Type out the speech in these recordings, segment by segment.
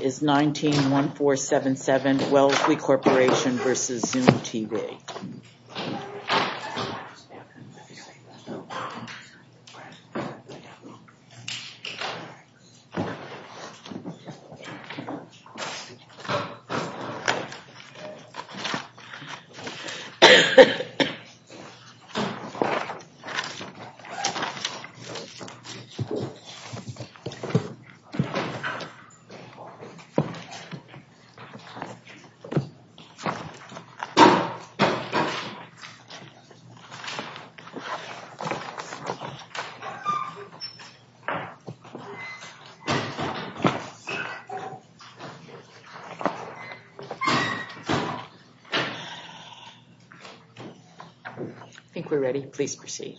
is 19-1477 Wellesley Corporation v. Zoom T-Vac. Good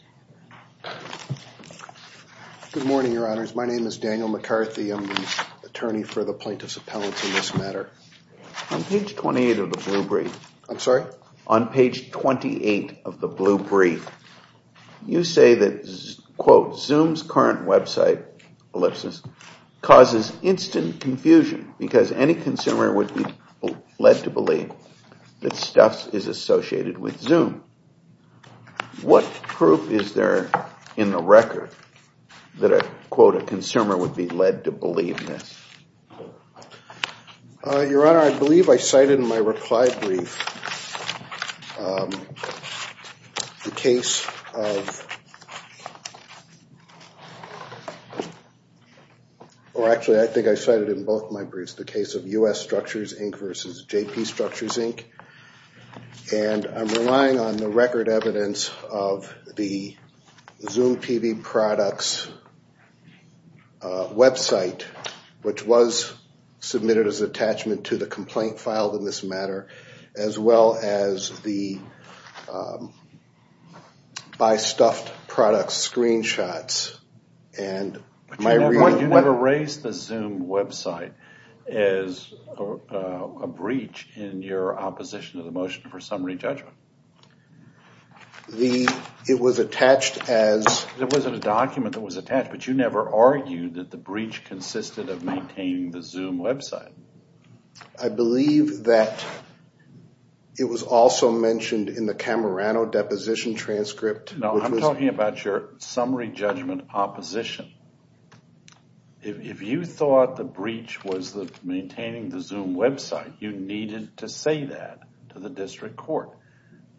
morning, your honors. My name is Daniel McCarthy. I'm the attorney for the plaintiff's appellate in this matter. On page 28 of the blue brief, I'm sorry, on page 28 of the blue brief, you say that, quote, Zoom's current website, ellipsis, causes instant confusion because any consumer would be led to believe that stuff is associated with Zoom. What proof is there in the record that a, quote, a consumer would be led to believe this? Your Honor, I believe I cited in my reply brief the case of, or actually, I think I cited in both my briefs, the case of U.S. Structures Inc. versus J.P. Structures Inc. And I'm relying on the record evidence of the Zoom T-V products website, which was submitted as attachment to the complaint filed in this matter, as well as the by stuffed products screenshots. You never raised the Zoom website as a breach in your opposition to the motion for summary judgment. It was attached as. It wasn't a document that was attached, but you never argued that the breach consisted of maintaining the Zoom website. I believe that it was also mentioned in the Camerano deposition transcript. No, I'm talking about your summary judgment opposition. If you thought the breach was maintaining the Zoom website, you needed to say that to the district court.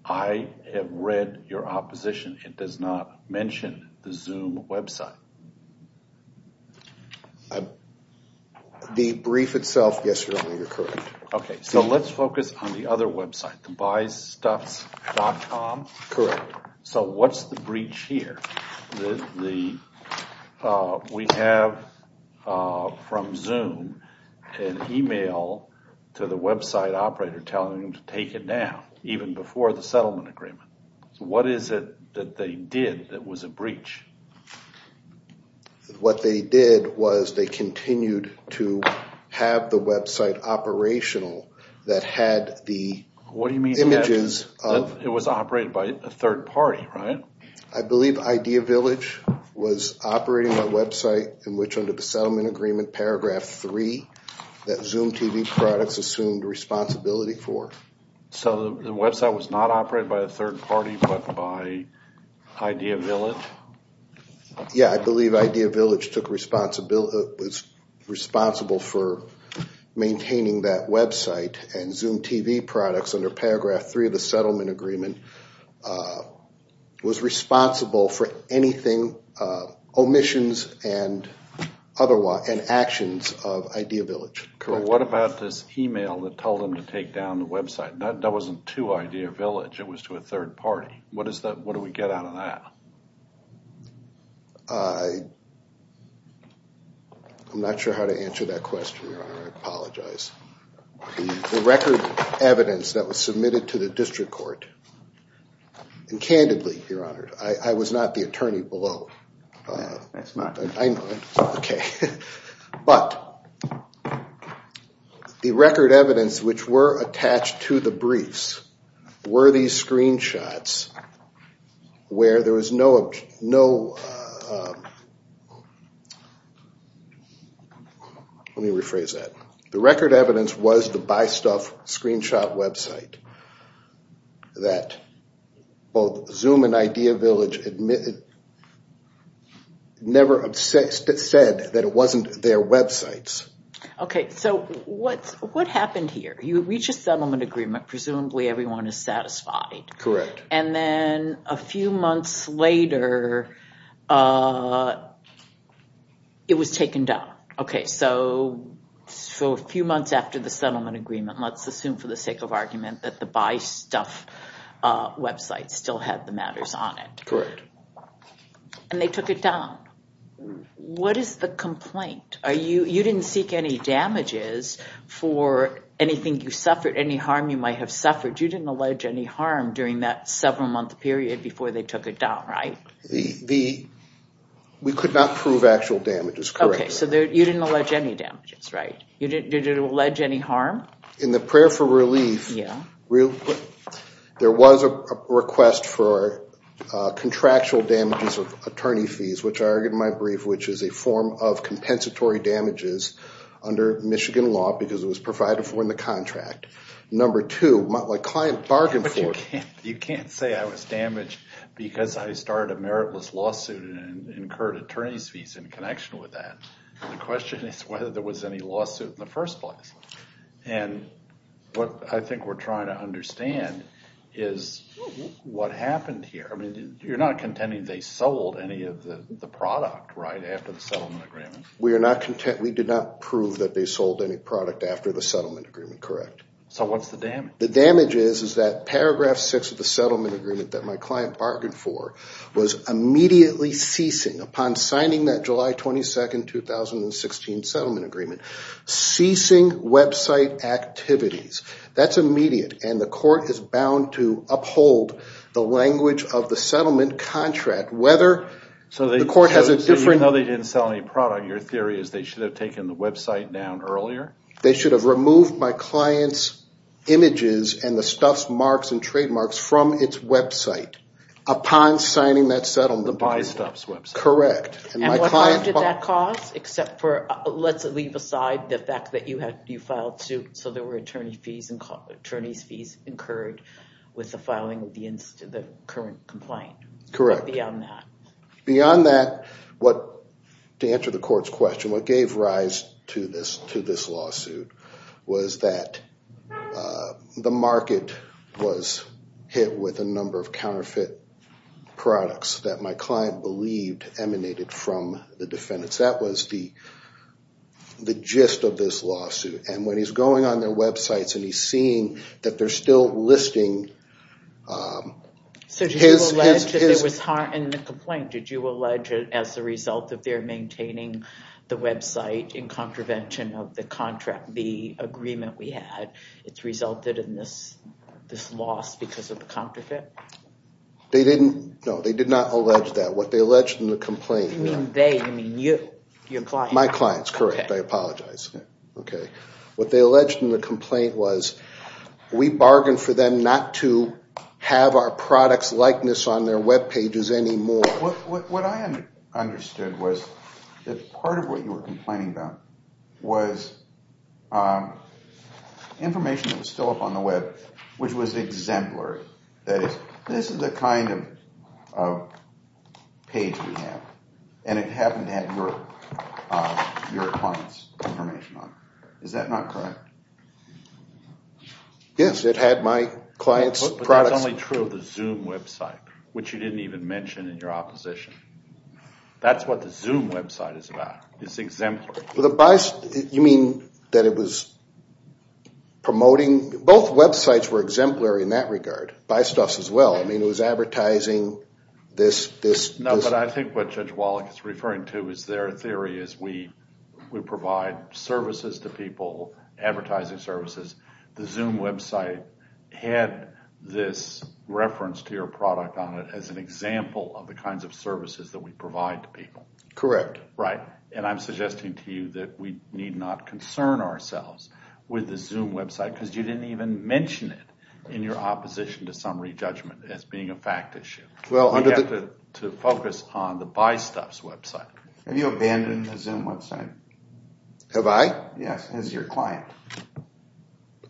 I have read your opposition. It does not mention the Zoom website. The brief itself. Yes, Your Honor, you're correct. OK, so let's focus on the other website to buy stuff dot com. Correct. So what's the breach here? The we have from Zoom an email to the website operator telling him to take it down even before the settlement agreement. What is it that they did that was a breach? What they did was they continued to have the website operational that had the what do you mean images? It was operated by a third party, right? I believe Idea Village was operating a website in which under the settlement agreement, paragraph three that Zoom TV products assumed responsibility for. So the website was not operated by a third party, but by Idea Village. Yeah, I believe Idea Village took responsibility, was responsible for maintaining that website and Zoom TV products under paragraph three of the settlement agreement was responsible for anything, omissions and actions of Idea Village. So what about this email that told him to take down the website? That wasn't to Idea Village. It was to a third party. What is that? What do we get out of that? I'm not sure how to answer that question. I apologize. The record evidence that was submitted to the district court and candidly, Your Honor, I was not the attorney below. Okay. But the record evidence which were attached to the briefs were these screenshots where there was no, no. Let me rephrase that. The record evidence was the Buy Stuff screenshot website that both Zoom and Idea Village admitted never said that it wasn't their websites. Okay. So what happened here? You reach a settlement agreement. Presumably everyone is satisfied. Correct. And then a few months later, it was taken down. Okay. So for a few months after the settlement agreement, let's assume for the sake of argument that the Buy Stuff website still had the matters on it. And they took it down. What is the complaint? You didn't seek any damages for anything you suffered, any harm you might have suffered. You didn't allege any harm during that several month period before they took it down, right? We could not prove actual damages. Correct. Okay. So you didn't allege any damages, right? You didn't allege any harm? In the prayer for relief, there was a request for contractual damages of attorney fees, which I argued in my brief, which is a form of compensatory damages under Michigan law because it was provided for in the contract. Number two, my client bargained for it. You can't say I was damaged because I started a meritless lawsuit and incurred attorney's fees in connection with that. The question is whether there was any lawsuit in the first place. And what I think we're trying to understand is what happened here. I mean, you're not contending they sold any of the product, right, after the settlement agreement. We did not prove that they sold any product after the settlement agreement. Correct. So what's the damage? The damage is that paragraph six of the settlement agreement that my client bargained for was immediately ceasing upon signing that July 22, 2016 settlement agreement, ceasing website activities. That's immediate. And the court is bound to uphold the language of the settlement contract. So even though they didn't sell any product, your theory is they should have taken the website down earlier? They should have removed my client's images and the stuff's marks and trademarks from its website upon signing that settlement agreement. The Buy Stuff's website. Correct. And what harm did that cause except for, let's leave aside the fact that you filed suit so there were attorney's fees incurred with the filing of the current complaint. Correct. But beyond that? To answer the court's question, what gave rise to this lawsuit was that the market was hit with a number of counterfeit products that my client believed emanated from the defendants. That was the gist of this lawsuit. And when he's going on their websites and he's seeing that they're still listing his... So did you allege that there was harm in the complaint? Did you allege that as a result of their maintaining the website in contravention of the contract, the agreement we had, it's resulted in this loss because of the counterfeit? They didn't, no, they did not allege that. What they alleged in the complaint... You mean they, you mean you, your client. That's correct. I apologize. Okay. What they alleged in the complaint was we bargained for them not to have our products likeness on their webpages anymore. What I understood was that part of what you were complaining about was information that was still up on the web, which was exemplary. That is, this is the kind of page we have, and it happened to have your client's information on it. Is that not correct? Yes, it had my client's products. That's only true of the Zoom website, which you didn't even mention in your opposition. That's what the Zoom website is about. It's exemplary. You mean that it was promoting, both websites were exemplary in that regard, Bystuffs as well. I mean it was advertising this... But I think what Judge Wallach is referring to is their theory is we provide services to people, advertising services. The Zoom website had this reference to your product on it as an example of the kinds of services that we provide to people. Correct. Right. And I'm suggesting to you that we need not concern ourselves with the Zoom website because you didn't even mention it in your opposition to summary judgment as being a fact issue. We have to focus on the Bystuffs website. Have you abandoned the Zoom website? Have I? Yes, as your client.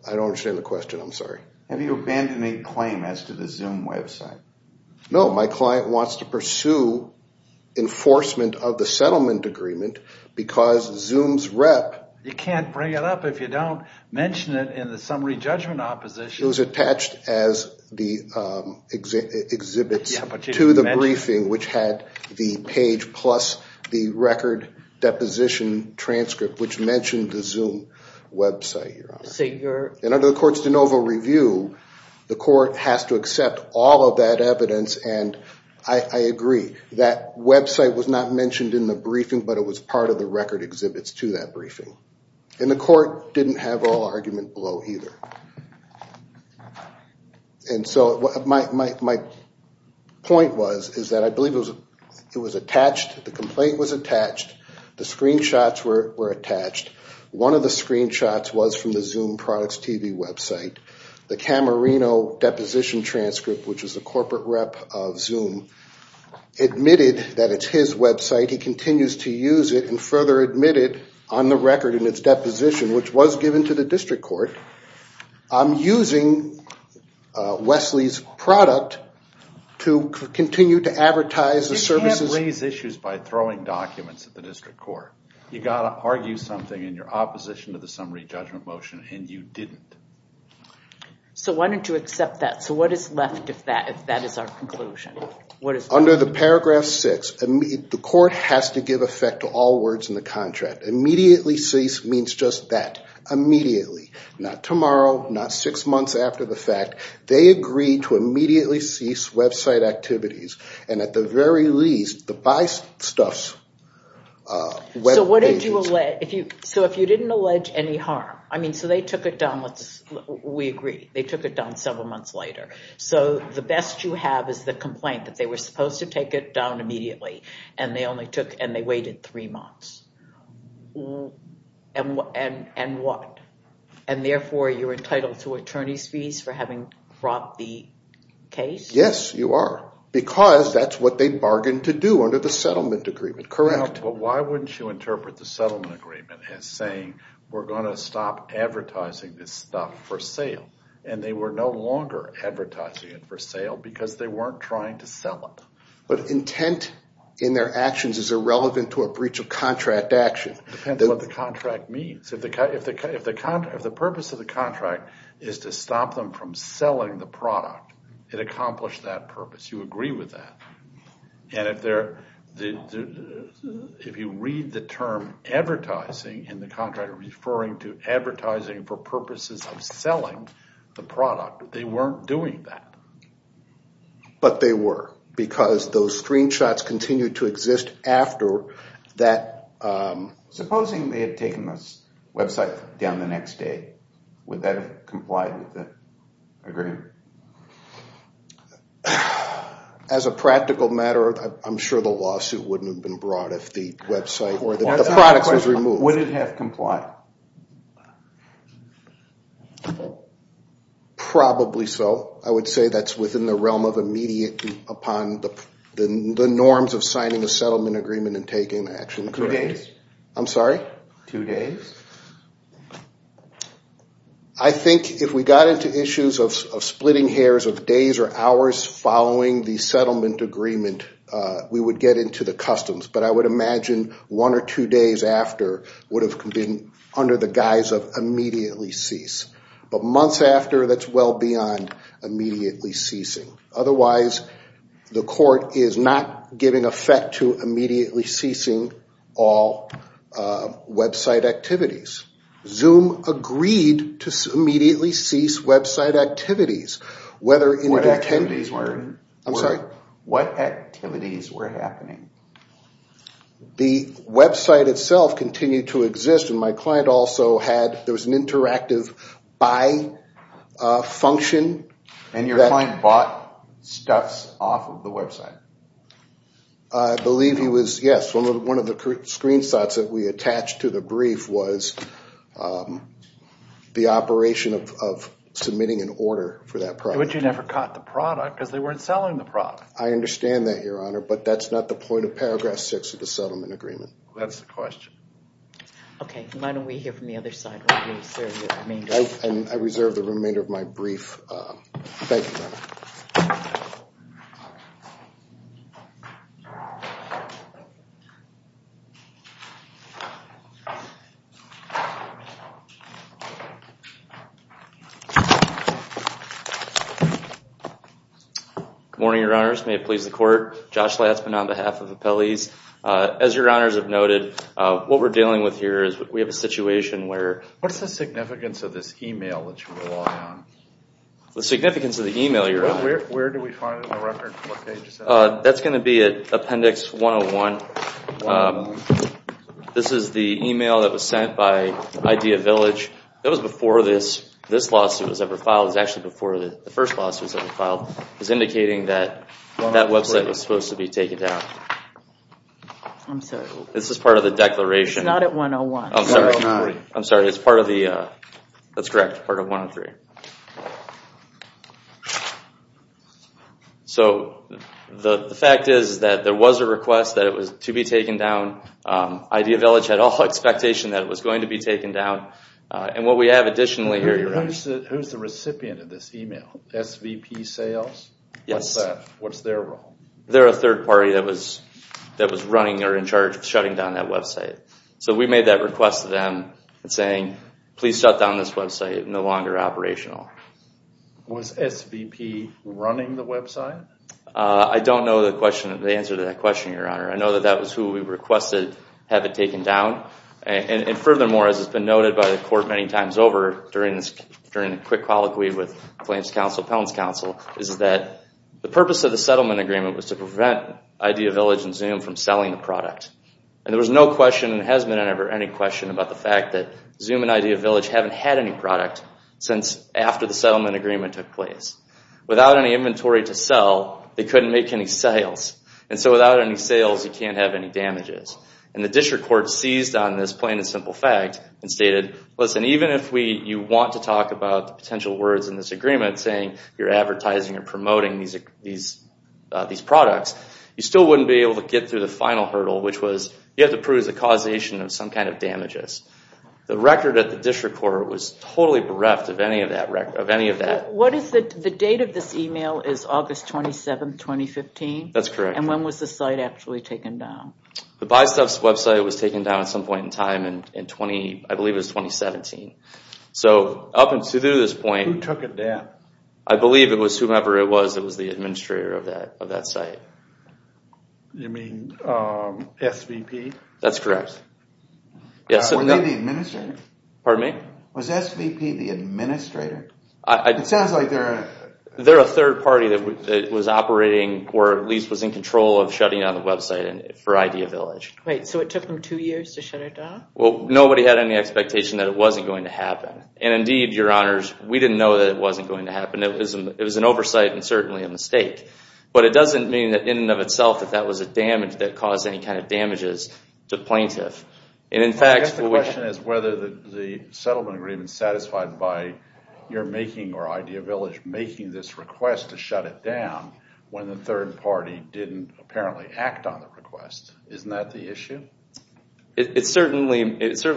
I don't understand the question. I'm sorry. Have you abandoned any claim as to the Zoom website? No, my client wants to pursue enforcement of the settlement agreement because Zoom's rep... You can't bring it up if you don't mention it in the summary judgment opposition. It was attached as the exhibits to the briefing, which had the page plus the record deposition transcript, which mentioned the Zoom website. And under the court's de novo review, the court has to accept all of that evidence. And I agree that website was not mentioned in the briefing, but it was part of the record exhibits to that briefing. And the court didn't have all argument below either. And so my point was is that I believe it was attached, the complaint was attached, the screenshots were attached. One of the screenshots was from the Zoom products TV website. The Camerino deposition transcript, which is the corporate rep of Zoom, admitted that it's his website. He continues to use it and further admit it on the record in its deposition, which was given to the district court. I'm using Wesley's product to continue to advertise the services... You can't raise issues by throwing documents at the district court. You've got to argue something in your opposition to the summary judgment motion, and you didn't. So why don't you accept that? So what is left if that is our conclusion? Under the paragraph six, the court has to give effect to all words in the contract. Immediately cease means just that, immediately. Not tomorrow, not six months after the fact. They agreed to immediately cease website activities. And at the very least, the buy stuffs... So if you didn't allege any harm, I mean, so they took it down, we agree, they took it down several months later. So the best you have is the complaint that they were supposed to take it down immediately. And they waited three months. And what? And therefore you were entitled to attorney's fees for having brought the case? Yes, you are. Because that's what they bargained to do under the settlement agreement. Correct. But why wouldn't you interpret the settlement agreement as saying we're going to stop advertising this stuff for sale? And they were no longer advertising it for sale because they weren't trying to sell it. But intent in their actions is irrelevant to a breach of contract action. It depends on what the contract means. If the purpose of the contract is to stop them from selling the product, it accomplished that purpose, you agree with that. And if you read the term advertising in the contract referring to advertising for purposes of selling the product, they weren't doing that. But they were because those screenshots continued to exist after that. Supposing they had taken the website down the next day, would that have complied with the agreement? As a practical matter, I'm sure the lawsuit wouldn't have been brought if the website or the product was removed. Would it have complied? Probably so. I would say that's within the realm of immediately upon the norms of signing a settlement agreement and taking action. Two days? I'm sorry? Two days? I think if we got into issues of splitting hairs of days or hours following the settlement agreement, we would get into the customs. But I would imagine one or two days after would have been under the guise of immediately cease. But months after, that's well beyond immediately ceasing. Otherwise, the court is not giving effect to immediately ceasing all website activities. Zoom agreed to immediately cease website activities. What activities were happening? The website itself continued to exist, and my client also had – there was an interactive buy function. And your client bought stuff off of the website? I believe he was, yes. One of the screenshots that we attached to the brief was the operation of submitting an order for that product. But you never caught the product because they weren't selling the product. I understand that, Your Honor, but that's not the point of paragraph six of the settlement agreement. That's the question. Okay. Why don't we hear from the other side? I reserve the remainder of my brief. Thank you, Your Honor. Good morning, Your Honors. May it please the court. Josh Lassman on behalf of the appellees. As Your Honors have noted, what we're dealing with here is we have a situation where – What's the significance of this email that you're relying on? The significance of the email, Your Honor? Where do we find it in the record? That's going to be at Appendix 101. This is the email that was sent by Idea Village. That was before this lawsuit was ever filed. It was actually before the first lawsuit was ever filed. It was indicating that that website was supposed to be taken down. I'm sorry. This is part of the declaration. It's not at 101. I'm sorry. It's part of the – that's correct, part of 103. So the fact is that there was a request that it was to be taken down. Idea Village had all expectation that it was going to be taken down. And what we have additionally here – Who's the recipient of this email? SVP Sales? Yes. What's that? What's their role? They're a third party that was running or in charge of shutting down that website. So we made that request to them and saying, please shut down this website. It's no longer operational. I don't know the answer to that question, Your Honor. I know that that was who we requested have it taken down. And furthermore, as has been noted by the Court many times over during the quick colloquy with Plaintiff's Counsel, Appellant's Counsel, is that the purpose of the settlement agreement was to prevent Idea Village and Zoom from selling the product. And there was no question and has been never any question about the fact that Zoom and Idea Village haven't had any product since after the settlement agreement took place. Without any inventory to sell, they couldn't make any sales. And so without any sales, you can't have any damages. And the District Court seized on this plain and simple fact and stated, listen, even if you want to talk about the potential words in this agreement saying you're advertising and promoting these products, you still wouldn't be able to get through the final hurdle, which was you have to prove the causation of some kind of damages. The record at the District Court was totally bereft of any of that. The date of this email is August 27, 2015? That's correct. And when was the site actually taken down? The Buy Stuff website was taken down at some point in time in 20, I believe it was 2017. So up until this point- Who took it down? I believe it was whomever it was that was the administrator of that site. You mean SVP? That's correct. Were they the administrator? Pardon me? Was SVP the administrator? It sounds like they're a- or at least was in control of shutting down the website for Idea Village. So it took them two years to shut it down? Well, nobody had any expectation that it wasn't going to happen. And indeed, Your Honors, we didn't know that it wasn't going to happen. It was an oversight and certainly a mistake. But it doesn't mean in and of itself that that was a damage that caused any kind of damages to plaintiffs. I guess the question is whether the settlement agreement satisfied by you're making or Idea Village making this request to shut it down when the third party didn't apparently act on the request. Isn't that the issue? It certainly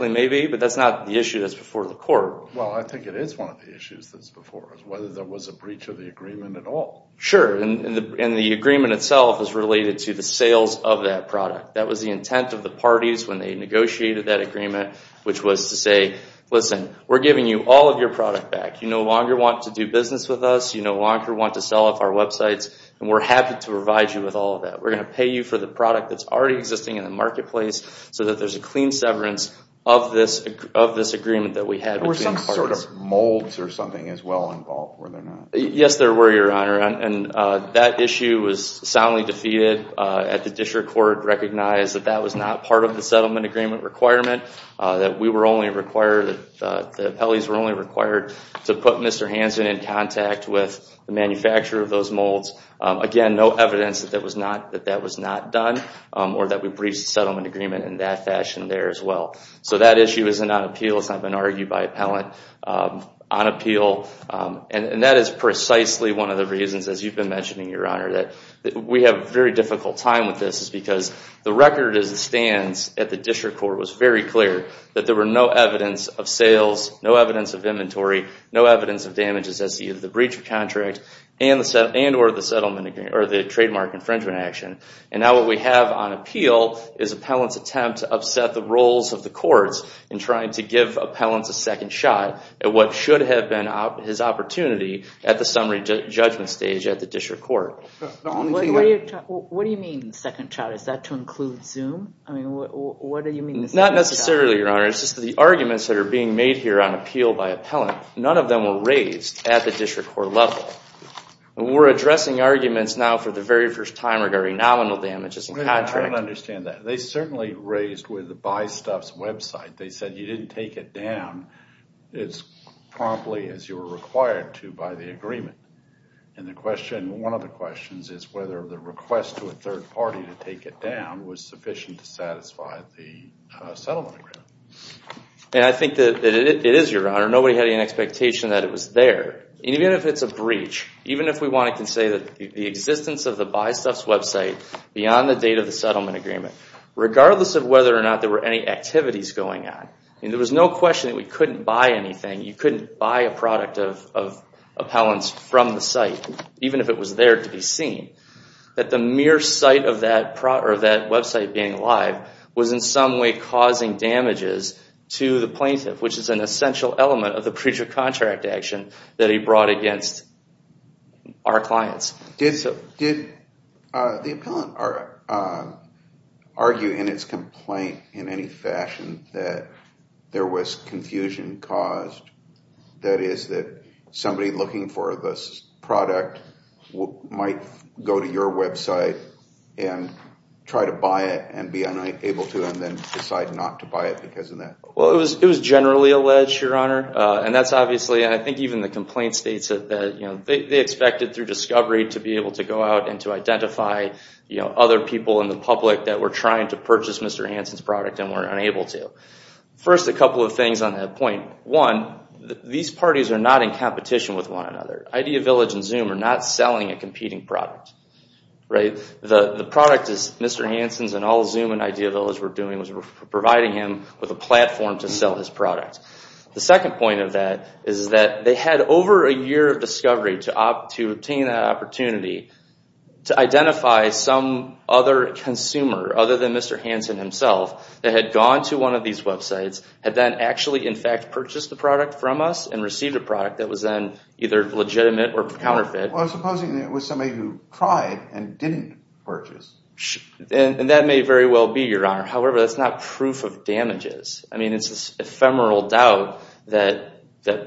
may be, but that's not the issue that's before the court. Well, I think it is one of the issues that's before us, whether there was a breach of the agreement at all. Sure. And the agreement itself is related to the sales of that product. That was the intent of the parties when they negotiated that agreement, which was to say, listen, we're giving you all of your product back. You no longer want to do business with us. You no longer want to sell off our websites. And we're happy to provide you with all of that. We're going to pay you for the product that's already existing in the marketplace so that there's a clean severance of this agreement that we had. Were some sort of molds or something as well involved, were there not? Yes, there were, Your Honor. And that issue was soundly defeated. The district court recognized that that was not part of the settlement agreement requirement, that the appellees were only required to put Mr. Hansen in contact with the manufacturer of those molds. Again, no evidence that that was not done or that we breached the settlement agreement in that fashion there as well. So that issue isn't on appeal. It's not been argued by appellant on appeal. And that is precisely one of the reasons, as you've been mentioning, Your Honor, that we have a very difficult time with this, is because the record as it stands at the district court was very clear that there were no evidence of sales, no evidence of inventory, no evidence of damages as to either the breach of contract and or the trademark infringement action. And now what we have on appeal is appellant's attempt to upset the roles of the courts in trying to give appellants a second shot at what should have been his opportunity at the summary judgment stage at the district court. What do you mean second shot? Is that to include Zoom? I mean, what do you mean? Not necessarily, Your Honor. It's just the arguments that are being made here on appeal by appellant. None of them were raised at the district court level. We're addressing arguments now for the very first time regarding nominal damages and contract. I don't understand that. They certainly raised with the Buy Stuff's website. They said you didn't take it down as promptly as you were required to by the agreement. One of the questions is whether the request to a third party to take it down was sufficient to satisfy the settlement agreement. I think that it is, Your Honor. Nobody had any expectation that it was there. Even if it's a breach, even if we want to say that the existence of the Buy Stuff's website beyond the date of the settlement agreement, regardless of whether or not there were any activities going on, there was no question that we couldn't buy anything. You couldn't buy a product of appellant's from the site, even if it was there to be seen. That the mere sight of that website being alive was in some way causing damages to the plaintiff, which is an essential element of the breach of contract action that he brought against our clients. Did the appellant argue in its complaint in any fashion that there was confusion caused? That is, that somebody looking for this product might go to your website and try to buy it and be unable to and then decide not to buy it because of that? Well, it was generally alleged, Your Honor. And that's obviously, and I think even the complaint states that they expected through discovery to be able to go out and to identify other people in the public that were trying to purchase Mr. Hansen's product and were unable to. First, a couple of things on that point. One, these parties are not in competition with one another. Idea Village and Zoom are not selling a competing product, right? The product is Mr. Hansen's and all Zoom and Idea Village were doing was providing him with a platform to sell his product. The second point of that is that they had over a year of discovery to obtain that opportunity to identify some other consumer other than Mr. And that somebody who had visited these websites had then actually, in fact, purchased the product from us and received a product that was then either legitimate or counterfeit. Well, supposing it was somebody who tried and didn't purchase? And that may very well be, Your Honor. However, that's not proof of damages. I mean, it's this ephemeral doubt that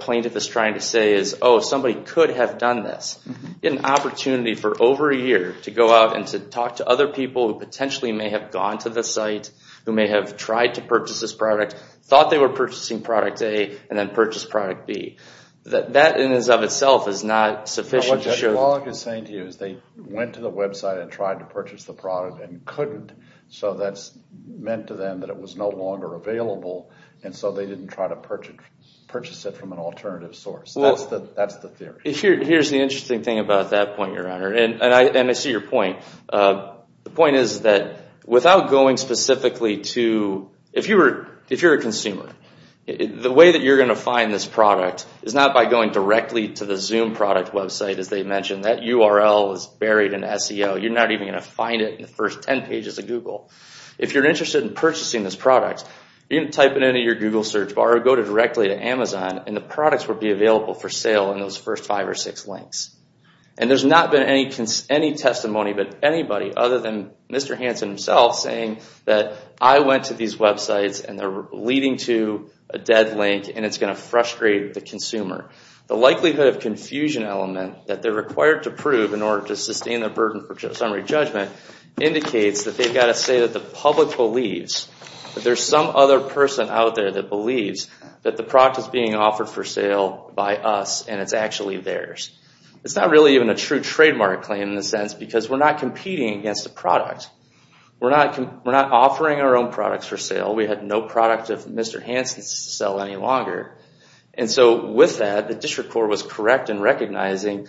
plaintiff is trying to say is, oh, somebody could have done this. Get an opportunity for over a year to go out and to talk to other people who potentially may have gone to the site, who may have tried to purchase this product, thought they were purchasing product A, and then purchased product B. That in and of itself is not sufficient. What Judge Wallach is saying to you is they went to the website and tried to purchase the product and couldn't, so that's meant to them that it was no longer available, and so they didn't try to purchase it from an alternative source. That's the theory. Here's the interesting thing about that point, Your Honor, and I see your point. The point is that without going specifically to, if you're a consumer, the way that you're going to find this product is not by going directly to the Zoom product website, as they mentioned. That URL is buried in SEO. You're not even going to find it in the first 10 pages of Google. If you're interested in purchasing this product, you can type it into your Google search bar or go directly to Amazon, and the products will be available for sale in those first five or six links. There's not been any testimony by anybody other than Mr. Hansen himself saying that I went to these websites and they're leading to a dead link and it's going to frustrate the consumer. The likelihood of confusion element that they're required to prove in order to sustain their burden for summary judgment indicates that they've got to say that the public believes that there's some other person out there that believes that the product is being offered for sale by us and it's actually theirs. It's not really even a true trademark claim in the sense because we're not competing against the product. We're not offering our own products for sale. We had no product of Mr. Hansen's to sell any longer. And so with that, the district court was correct in recognizing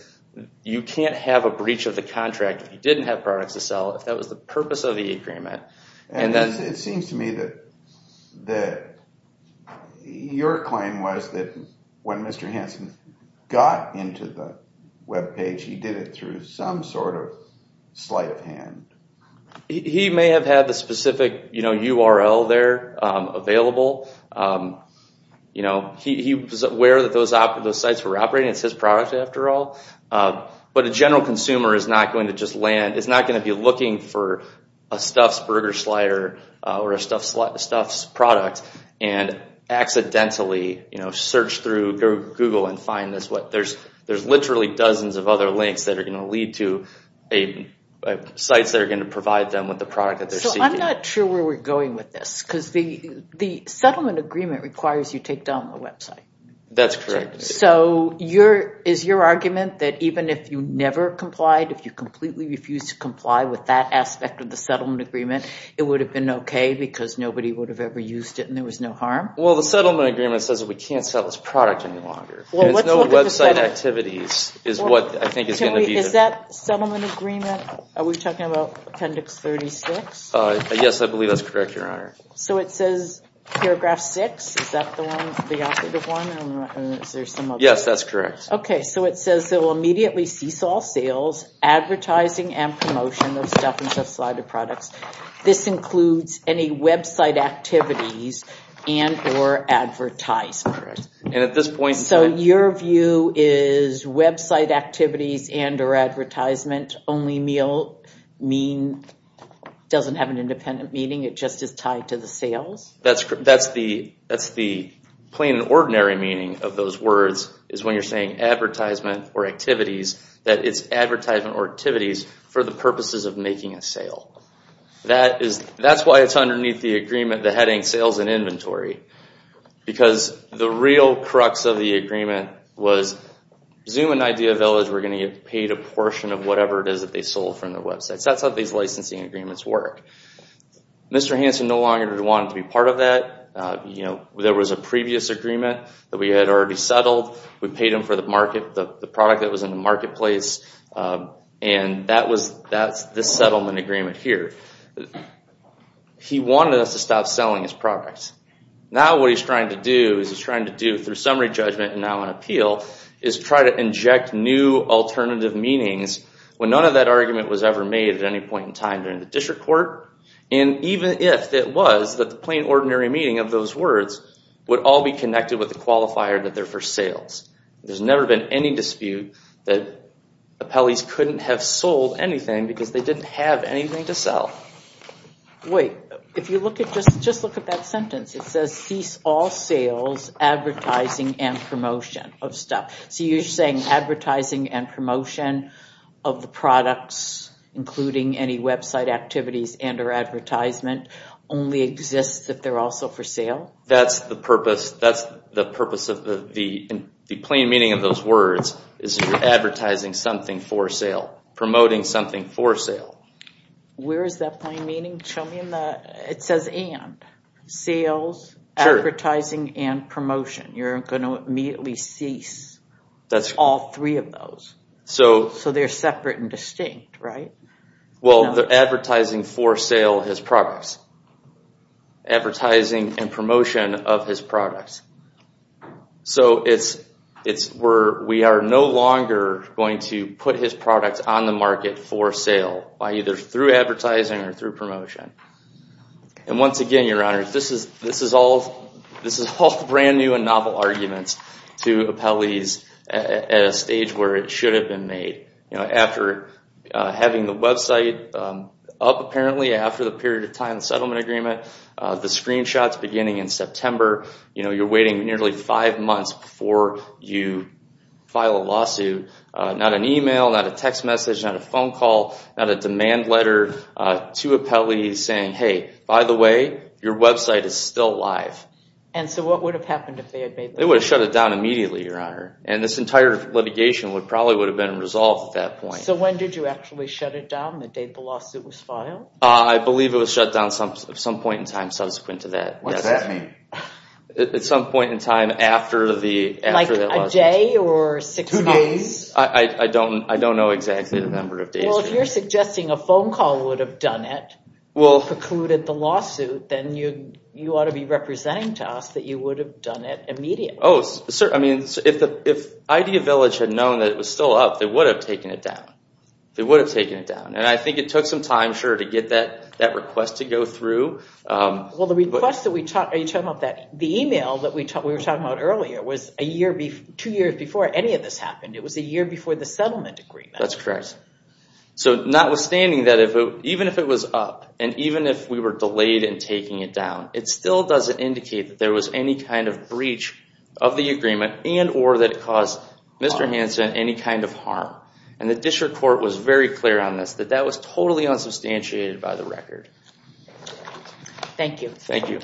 you can't have a breach of the contract if you didn't have products to sell, if that was the purpose of the agreement. And it seems to me that your claim was that when Mr. Hansen got into the webpage, he did it through some sort of sleight of hand. He may have had the specific URL there available. He was aware that those sites were operating. It's his product after all. But a general consumer is not going to just land, is not going to be looking for a Stuffs burger slider or a Stuffs product and accidentally search through Google and find this. There's literally dozens of other links that are going to lead to sites that are going to provide them with the product that they're seeking. So I'm not sure where we're going with this because the settlement agreement requires you take down the website. That's correct. So is your argument that even if you never complied, if you completely refused to comply with that aspect of the settlement agreement, it would have been okay because nobody would have ever used it and there was no harm? Well, the settlement agreement says that we can't sell this product any longer. There's no website activities is what I think is going to be. Is that settlement agreement? Are we talking about Appendix 36? Yes, I believe that's correct, Your Honor. So it says paragraph six. Is that the one, the operative one? Yes, that's correct. Okay. So it says it will immediately cease all sales, advertising and promotion of Stuff and Stuff slider products. This includes any website activities and or advertisements. And at this point... So your view is website activities and or advertisement only meal mean doesn't have an independent meaning, it just is tied to the sales? That's the plain and ordinary meaning of those words is when you're saying advertisement or activities, that it's advertisement or activities for the purposes of making a sale. That's why it's underneath the agreement, the heading sales and inventory. Because the real crux of the agreement was Zoom and Idea Village were going to get paid a portion of whatever it is that they sold from their websites. That's how these licensing agreements work. Mr. Hanson no longer wanted to be part of that. There was a previous agreement that we had already settled. We paid him for the product that was in the marketplace. And that's this settlement agreement here. He wanted us to stop selling his products. Now what he's trying to do is he's trying to do, through summary judgment and now on appeal, is try to inject new alternative meanings when none of that argument was ever made at any point in time during the district court. And even if it was, the plain and ordinary meaning of those words would all be connected with the qualifier that they're for sales. There's never been any dispute that appellees couldn't have sold anything because they didn't have anything to sell. Wait. If you look at, just look at that sentence. It says cease all sales, advertising, and promotion of stuff. So you're saying advertising and promotion of the products, including any website activities and or advertisement, only exists if they're also for sale? That's the purpose. The plain meaning of those words is you're advertising something for sale, promoting something for sale. Where is that plain meaning? Show me in the, it says and. Sales, advertising, and promotion. You're going to immediately cease all three of those. So they're separate and distinct, right? Well, they're advertising for sale of his products. Advertising and promotion of his products. So it's where we are no longer going to put his products on the market for sale, either through advertising or through promotion. And once again, your honor, this is all brand new and novel arguments to appellees at a stage where it should have been made. After having the website up, apparently, after the period of time settlement agreement, the screenshots beginning in September, you're waiting nearly five months before you file a lawsuit. Not an email, not a text message, not a phone call, not a demand letter to appellees saying, hey, by the way, your website is still live. And so what would have happened if they had made that? They would have shut it down immediately, your honor. And this entire litigation probably would have been resolved at that point. So when did you actually shut it down, the date the lawsuit was filed? I believe it was shut down at some point in time subsequent to that. What's that mean? At some point in time after the lawsuit. Like a day or six months? Two days. I don't know exactly the number of days. Well, if you're suggesting a phone call would have done it, precluded the lawsuit, then you ought to be representing to us that you would have done it immediately. Oh, sir. I mean, if Idea Village had known that it was still up, they would have taken it down. They would have taken it down. And I think it took some time, sure, to get that request to go through. Well, the email that we were talking about earlier was two years before any of this happened. It was a year before the settlement agreement. That's correct. So notwithstanding that, even if it was up, and even if we were delayed in taking it down, it still doesn't indicate that there was any kind of breach of the agreement and or that it caused Mr. Hanson any kind of harm. And the district court was very clear on this, that that was totally unsubstantiated by the record. Thank you. Thank you.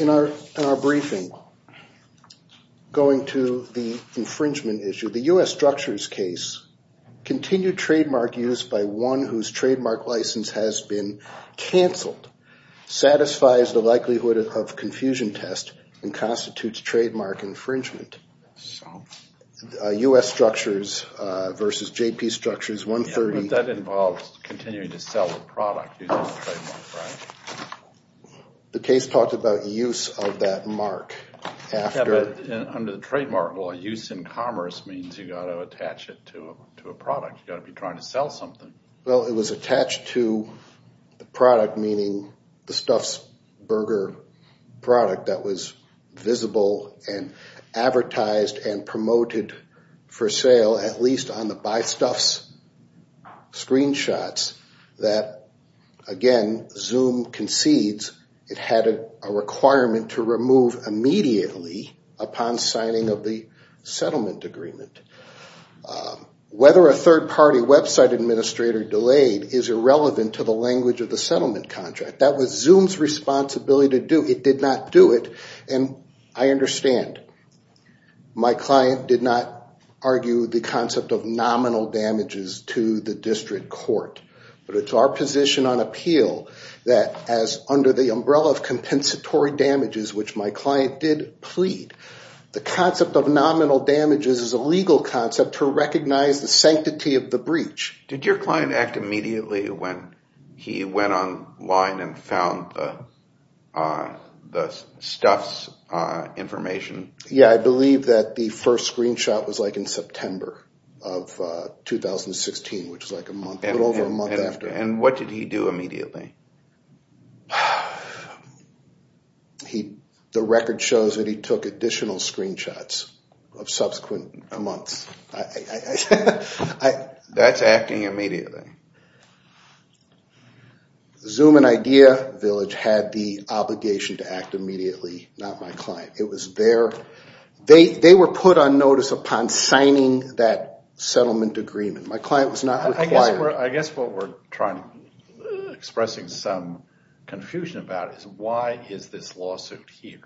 In our briefing, going to the infringement issue, the U.S. structures case continued trademark use by one whose trademark license has been canceled, satisfies the likelihood of confusion test, and constitutes trademark infringement. So? U.S. structures versus J.P. structures, 130. Yeah, but that involves continuing to sell the product using the trademark, right? The case talked about use of that mark. Yeah, but under the trademark law, use in commerce means you've got to attach it to a product. You've got to be trying to sell something. Well, it was attached to the product, meaning the Stuffs Burger product that was visible and advertised and promoted for sale, at least on the BuyStuffs screenshots, that, again, Zoom concedes it had a requirement to remove immediately upon signing of the settlement agreement. Whether a third-party website administrator delayed is irrelevant to the language of the settlement contract. That was Zoom's responsibility to do. It did not do it, and I understand. My client did not argue the concept of nominal damages to the district court, but it's our position on appeal that, as under the umbrella of compensatory damages, which my client did plead, the concept of nominal damages is a legal concept to recognize the sanctity of the breach. Did your client act immediately when he went online and found the Stuffs information? Yeah, I believe that the first screenshot was, like, in September of 2016, which is, like, a little over a month after. And what did he do immediately? The record shows that he took additional screenshots of subsequent months. That's acting immediately. Zoom and Idea Village had the obligation to act immediately, not my client. It was their—they were put on notice upon signing that settlement agreement. My client was not required. I guess what we're trying to—expressing some confusion about is, why is this lawsuit here?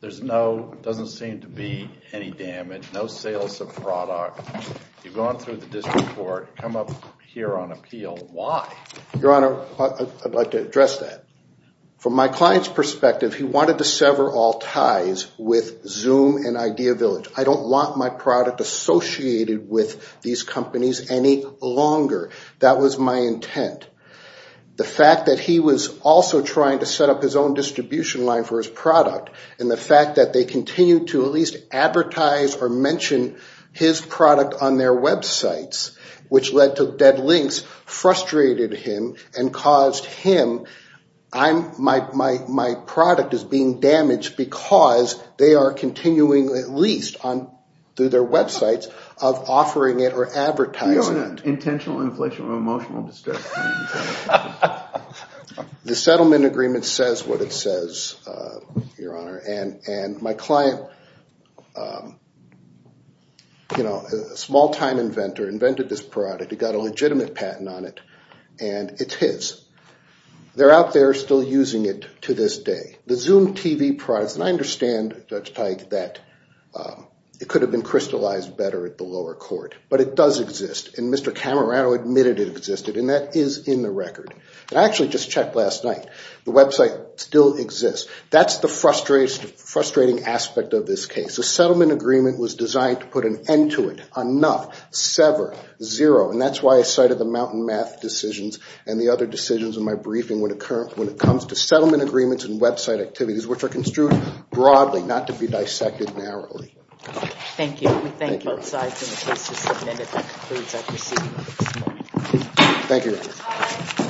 There's no—doesn't seem to be any damage, no sales of product. You've gone through the district court, come up here on appeal. Why? Your Honor, I'd like to address that. From my client's perspective, he wanted to sever all ties with Zoom and Idea Village. I don't want my product associated with these companies any longer. That was my intent. The fact that he was also trying to set up his own distribution line for his product and the fact that they continued to at least advertise or mention his product on their websites, which led to dead links, frustrated him and caused him—my product is being damaged because they are continuing at least through their websites of offering it or advertising it. You're in an intentional inflation of emotional distress. The settlement agreement says what it says, Your Honor, and my client, you know, a small-time inventor, invented this product. He got a legitimate patent on it, and it's his. They're out there still using it to this day. The Zoom TV product, and I understand, Judge Teig, that it could have been crystallized better at the lower court, but it does exist, and Mr. Camerano admitted it existed, and that is in the record. And I actually just checked last night. The website still exists. That's the frustrating aspect of this case. The settlement agreement was designed to put an end to it. Enough. Sever. Zero. And that's why I cited the mountain math decisions and the other decisions in my briefing when it comes to settlement agreements and website activities, which are construed broadly, not to be dissected narrowly. Thank you. We thank both sides in the case to submit it. That concludes our proceedings at this point. Thank you, Your Honor.